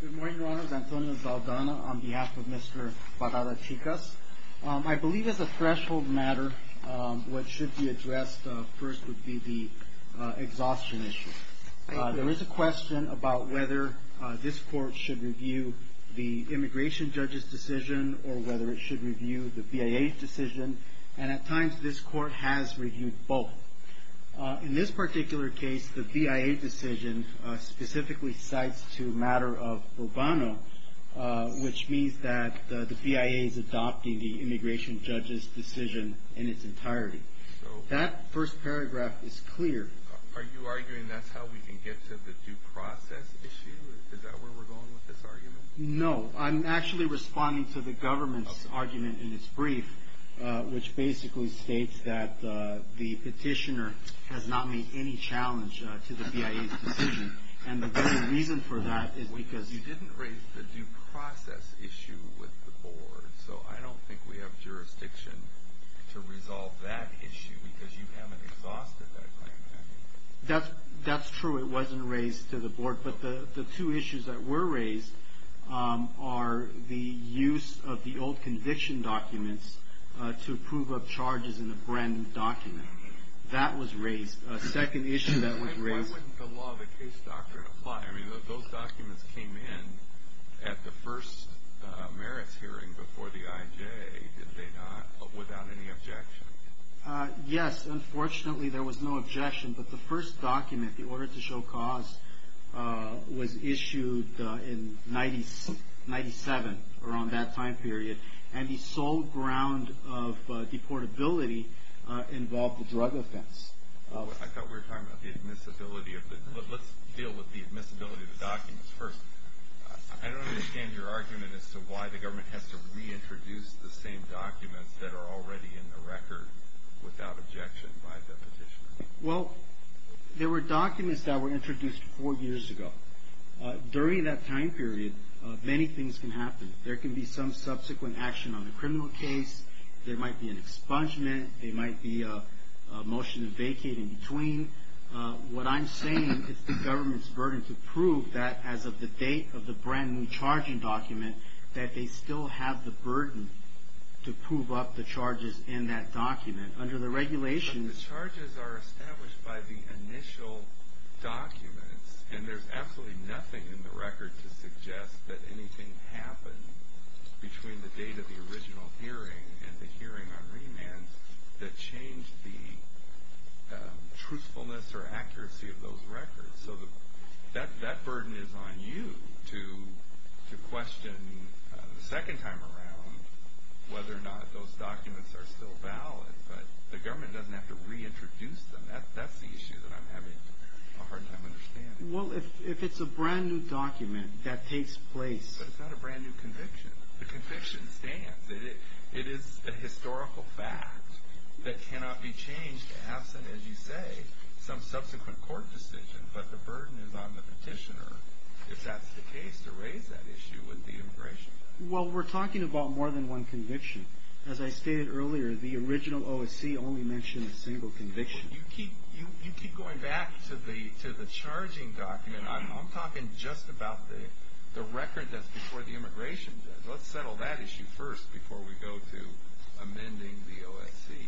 Good morning, Your Honors. Antonio Zaldana on behalf of Mr. Parada-Chicas. I believe as a threshold matter, what should be addressed first would be the exhaustion issue. There is a question about whether this court should review the immigration judge's decision or whether it should review the BIA decision, and at times this court has reviewed both. In this particular case, the BIA decision specifically cites to a matter of Urbano, which means that the BIA is adopting the immigration judge's decision in its entirety. That first paragraph is clear. Are you arguing that's how we can get to the due process issue? Is that where we're going with this argument? No, I'm actually responding to the government's argument in its brief, which basically states that the petitioner has not made any challenge to the BIA's decision, and the reason for that is because... Well, you didn't raise the due process issue with the board, so I don't think we have jurisdiction to resolve that issue because you haven't exhausted that claim. That's true. It wasn't raised to the board, but the two issues that were raised are the use of the old conviction documents to approve of charges in a brand new document. That was raised. A second issue that was raised... And why wouldn't the law of the case doctrine apply? I mean, those documents came in at the first merits hearing before the IJ, did they not, without any objection? Yes. Unfortunately, there was no objection, but the first document, the order to show cause, was issued in 1997, around that time period, and the sole ground of deportability involved a drug offense. I thought we were talking about the admissibility of the... Let's deal with the admissibility of the documents first. I don't understand your argument as to why the government has to reintroduce the same documents that are already in the record without objection by the petitioner. Well, there were documents that were introduced four years ago. During that time period, many things can happen. There can be some subsequent action on the criminal case. There might be an expungement. There might be a motion to vacate in between. What I'm saying is the government's burden to prove that as of the date of the brand new charging document, that they still have the burden to prove up the charges in that document. Under the regulations... But the charges are established by the initial documents, and there's absolutely nothing in the record to suggest that anything happened between the date of the original hearing and the hearing on remand that changed the truthfulness or accuracy of those records. So that burden is on you to question the second time around whether or not those documents are still valid. But the government doesn't have to reintroduce them. That's the issue that I'm having a hard time understanding. Well, if it's a brand new document that takes place... But it's not a brand new conviction. The conviction stands. It is a historical fact that cannot be changed absent, as you say, some subsequent court decision. But the burden is on the petitioner, if that's the case, to raise that issue with the immigration judge. Well, we're talking about more than one conviction. As I stated earlier, the original OSC only mentioned a single conviction. You keep going back to the charging document. I'm talking just about the record that's before the immigration judge. Let's settle that issue first before we go to amending the OSC.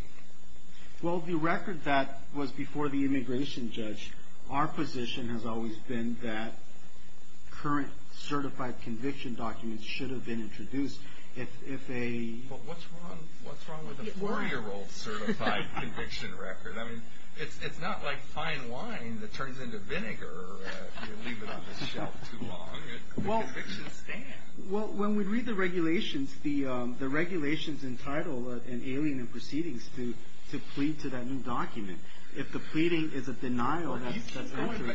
Well, the record that was before the immigration judge, our position has always been that current certified conviction documents should have been introduced if a... But what's wrong with a 4-year-old certified conviction record? I mean, it's not like fine wine that turns into vinegar if you leave it on the shelf too long. The convictions stand. Well, when we read the regulations, the regulations entitle an alien in proceedings to plead to that new document. If the pleading is a denial, that's...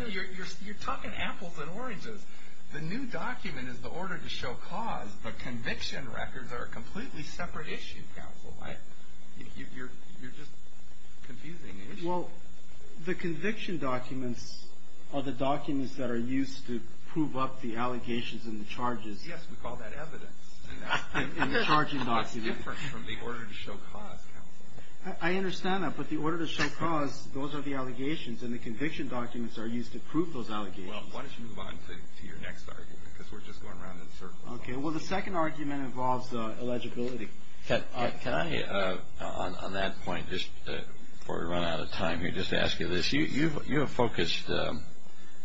You're talking apples and oranges. The new document is the order to show cause, but conviction records are a completely separate issue, counsel. You're just confusing me. Well, the conviction documents are the documents that are used to prove up the allegations and the charges. Yes, we call that evidence. And the charging document. That's different from the order to show cause, counsel. I understand that, but the order to show cause, those are the allegations, and the conviction documents are used to prove those allegations. Well, why don't you move on to your next argument, because we're just going around in circles. Okay. Well, the second argument involves eligibility. Can I, on that point, just before we run out of time here, just ask you this. You have focused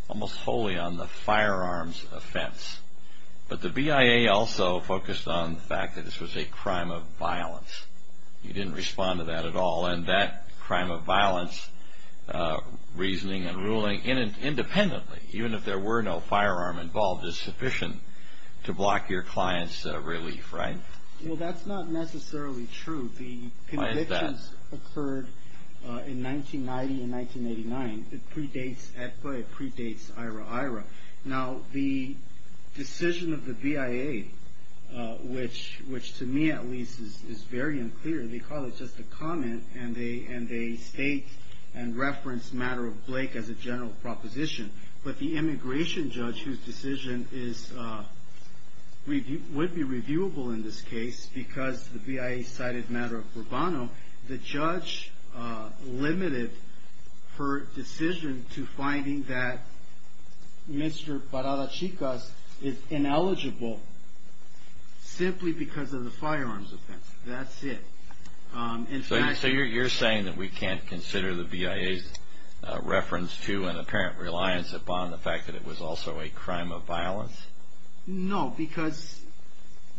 almost wholly on the firearms offense, but the BIA also focused on the fact that this was a crime of violence. You didn't respond to that at all, and that crime of violence, reasoning and ruling independently, even if there were no firearm involved, is sufficient to block your client's relief, right? Well, that's not necessarily true. Why is that? The convictions occurred in 1990 and 1989. It predates ETCA. It predates IRA-IRA. Now, the decision of the BIA, which to me, at least, is very unclear. They call it just a comment, and they state and reference the matter of Blake as a general proposition. But the immigration judge, whose decision would be reviewable in this case because the BIA cited matter of Rubano, the judge limited her decision to finding that Mr. Parada-Chicas is ineligible simply because of the firearms offense. That's it. So you're saying that we can't consider the BIA's reference to and apparent reliance upon the fact that it was also a crime of violence? No, because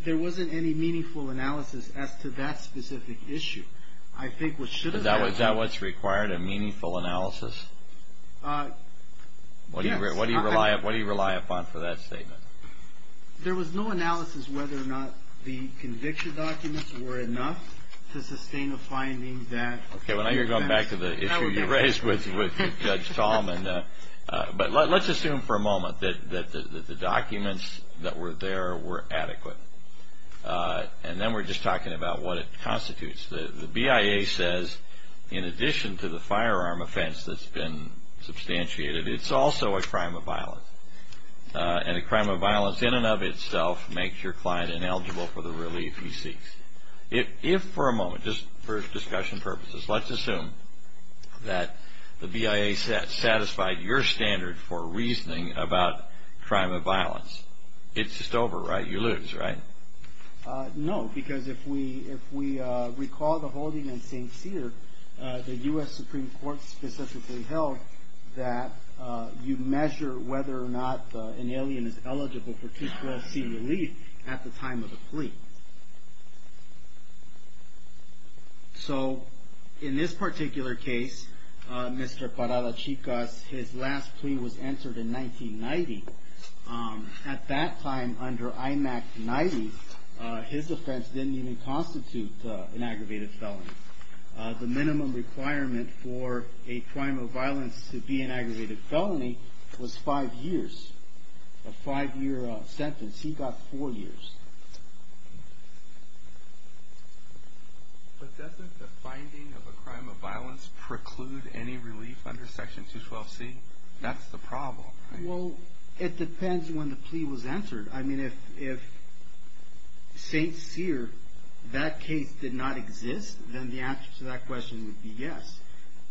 there wasn't any meaningful analysis as to that specific issue. I think what should have been- Is that what's required, a meaningful analysis? Yes. What do you rely upon for that statement? There was no analysis whether or not the conviction documents were enough to sustain a finding that- Okay, well now you're going back to the issue you raised with Judge Tallman. But let's assume for a moment that the documents that were there were adequate. And then we're just talking about what it constitutes. The BIA says, in addition to the firearm offense that's been substantiated, it's also a crime of violence. And a crime of violence in and of itself makes your client ineligible for the relief he seeks. If for a moment, just for discussion purposes, let's assume that the BIA satisfied your standard for reasoning about crime of violence, it's just over, right? You lose, right? No, because if we recall the holding in St. Cyr, the U.S. Supreme Court specifically held that you measure whether or not an alien is eligible for 212c relief at the time of the plea. So, in this particular case, Mr. Parada-Chicas, his last plea was answered in 1990. At that time, under IMAC 90, his offense didn't even constitute an aggravated felony. The minimum requirement for a crime of violence to be an aggravated felony was five years. A five-year sentence. He got four years. But doesn't the finding of a crime of violence preclude any relief under Section 212c? That's the problem, right? Well, it depends when the plea was answered. I mean, if St. Cyr, that case did not exist, then the answer to that question would be yes.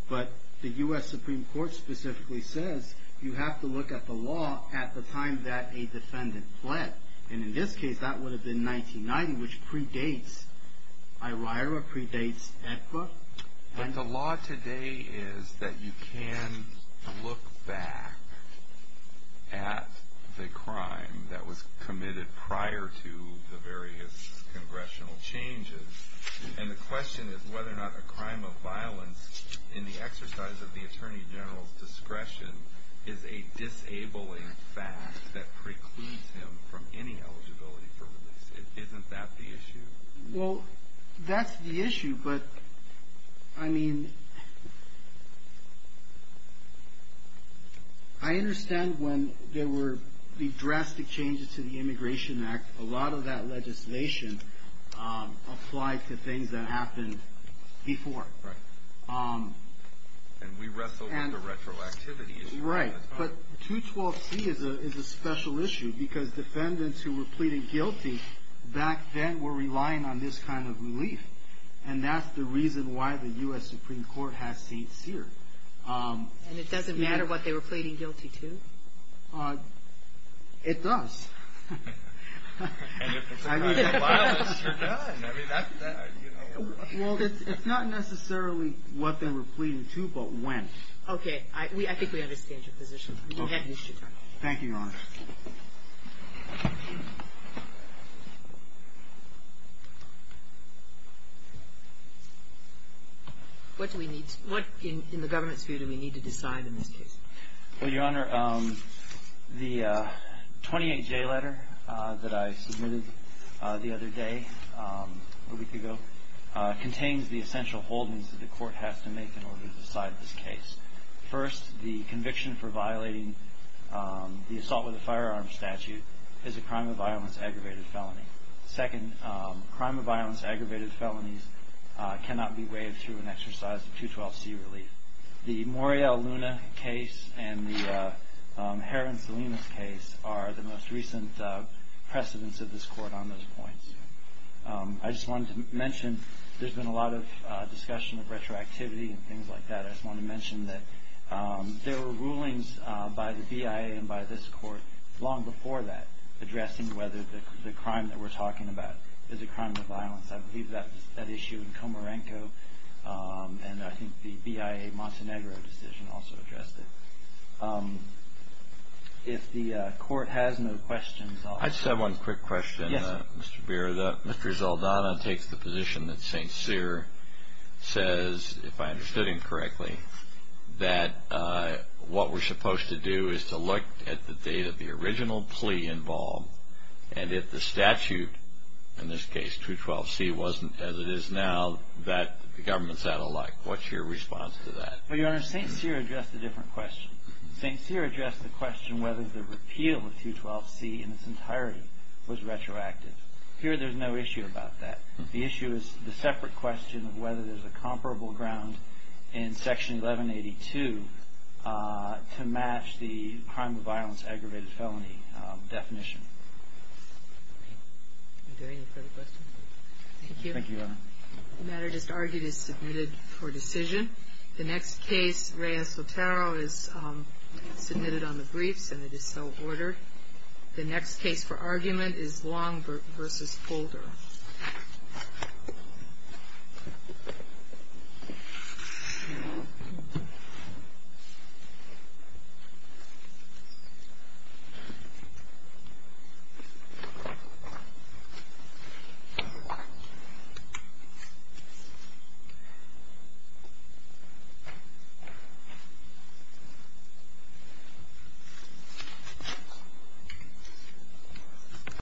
But the U.S. Supreme Court specifically says you have to look at the law at the time that a defendant fled. And in this case, that would have been 1990, which predates IRIRA, predates AEDPA. But the law today is that you can look back at the crime that was committed prior to the various congressional changes. And the question is whether or not a crime of violence in the exercise of the Attorney General's discretion is a disabling fact that precludes him from any eligibility for relief. Isn't that the issue? Well, that's the issue. But, I mean, I understand when there were the drastic changes to the Immigration Act, a lot of that legislation applied to things that happened before. Right. And we wrestle with the retroactivity issue. Right. But 212c is a special issue because defendants who were pleading guilty back then were relying on this kind of relief. And that's the reason why the U.S. Supreme Court has St. Cyr. And it doesn't matter what they were pleading guilty to? It does. And if it's a crime of violence, you're done. Well, it's not necessarily what they were pleading to, but when. I think we understand your position. Thank you, Your Honor. What do we need? What, in the government's view, do we need to decide in this case? Well, Your Honor, the 28J letter that I submitted the other day, a week ago, contains the essential holdings that the Court has to make in order to decide this case. First, the conviction for violating the assault with a gun charge under the firearms statute is a crime of violence, aggravated felony. Second, crime of violence, aggravated felonies cannot be waived through an exercise of 212c relief. The Morial Luna case and the Heron Salinas case are the most recent precedents of this Court on those points. I just wanted to mention there's been a lot of discussion of retroactivity and things like that. I just wanted to mention that there were rulings by the BIA and by this Court long before that addressing whether the crime that we're talking about is a crime of violence. I believe that was at issue in Comarenco, and I think the BIA Montenegro decision also addressed it. If the Court has no questions, I'll... I just have one quick question, Mr. Beer. Mr. Zaldana takes the position that St. Cyr says, if I understood him correctly, that what we're supposed to do is to look at the date of the original plea involved, and if the statute, in this case 212c, wasn't as it is now, that the government's out of luck. What's your response to that? Well, Your Honor, St. Cyr addressed a different question. St. Cyr addressed the question whether the repeal of 212c in its entirety was retroactive. Here, there's no issue about that. The issue is the separate question of whether there's a comparable ground in Section 1182 to match the crime of violence aggravated felony definition. Are there any further questions? Thank you. Thank you, Your Honor. The matter just argued is submitted for decision. The next case, Reyes-Otero, is submitted on the briefs, and it is so ordered. The next case for argument is Long v. Holder. Thank you.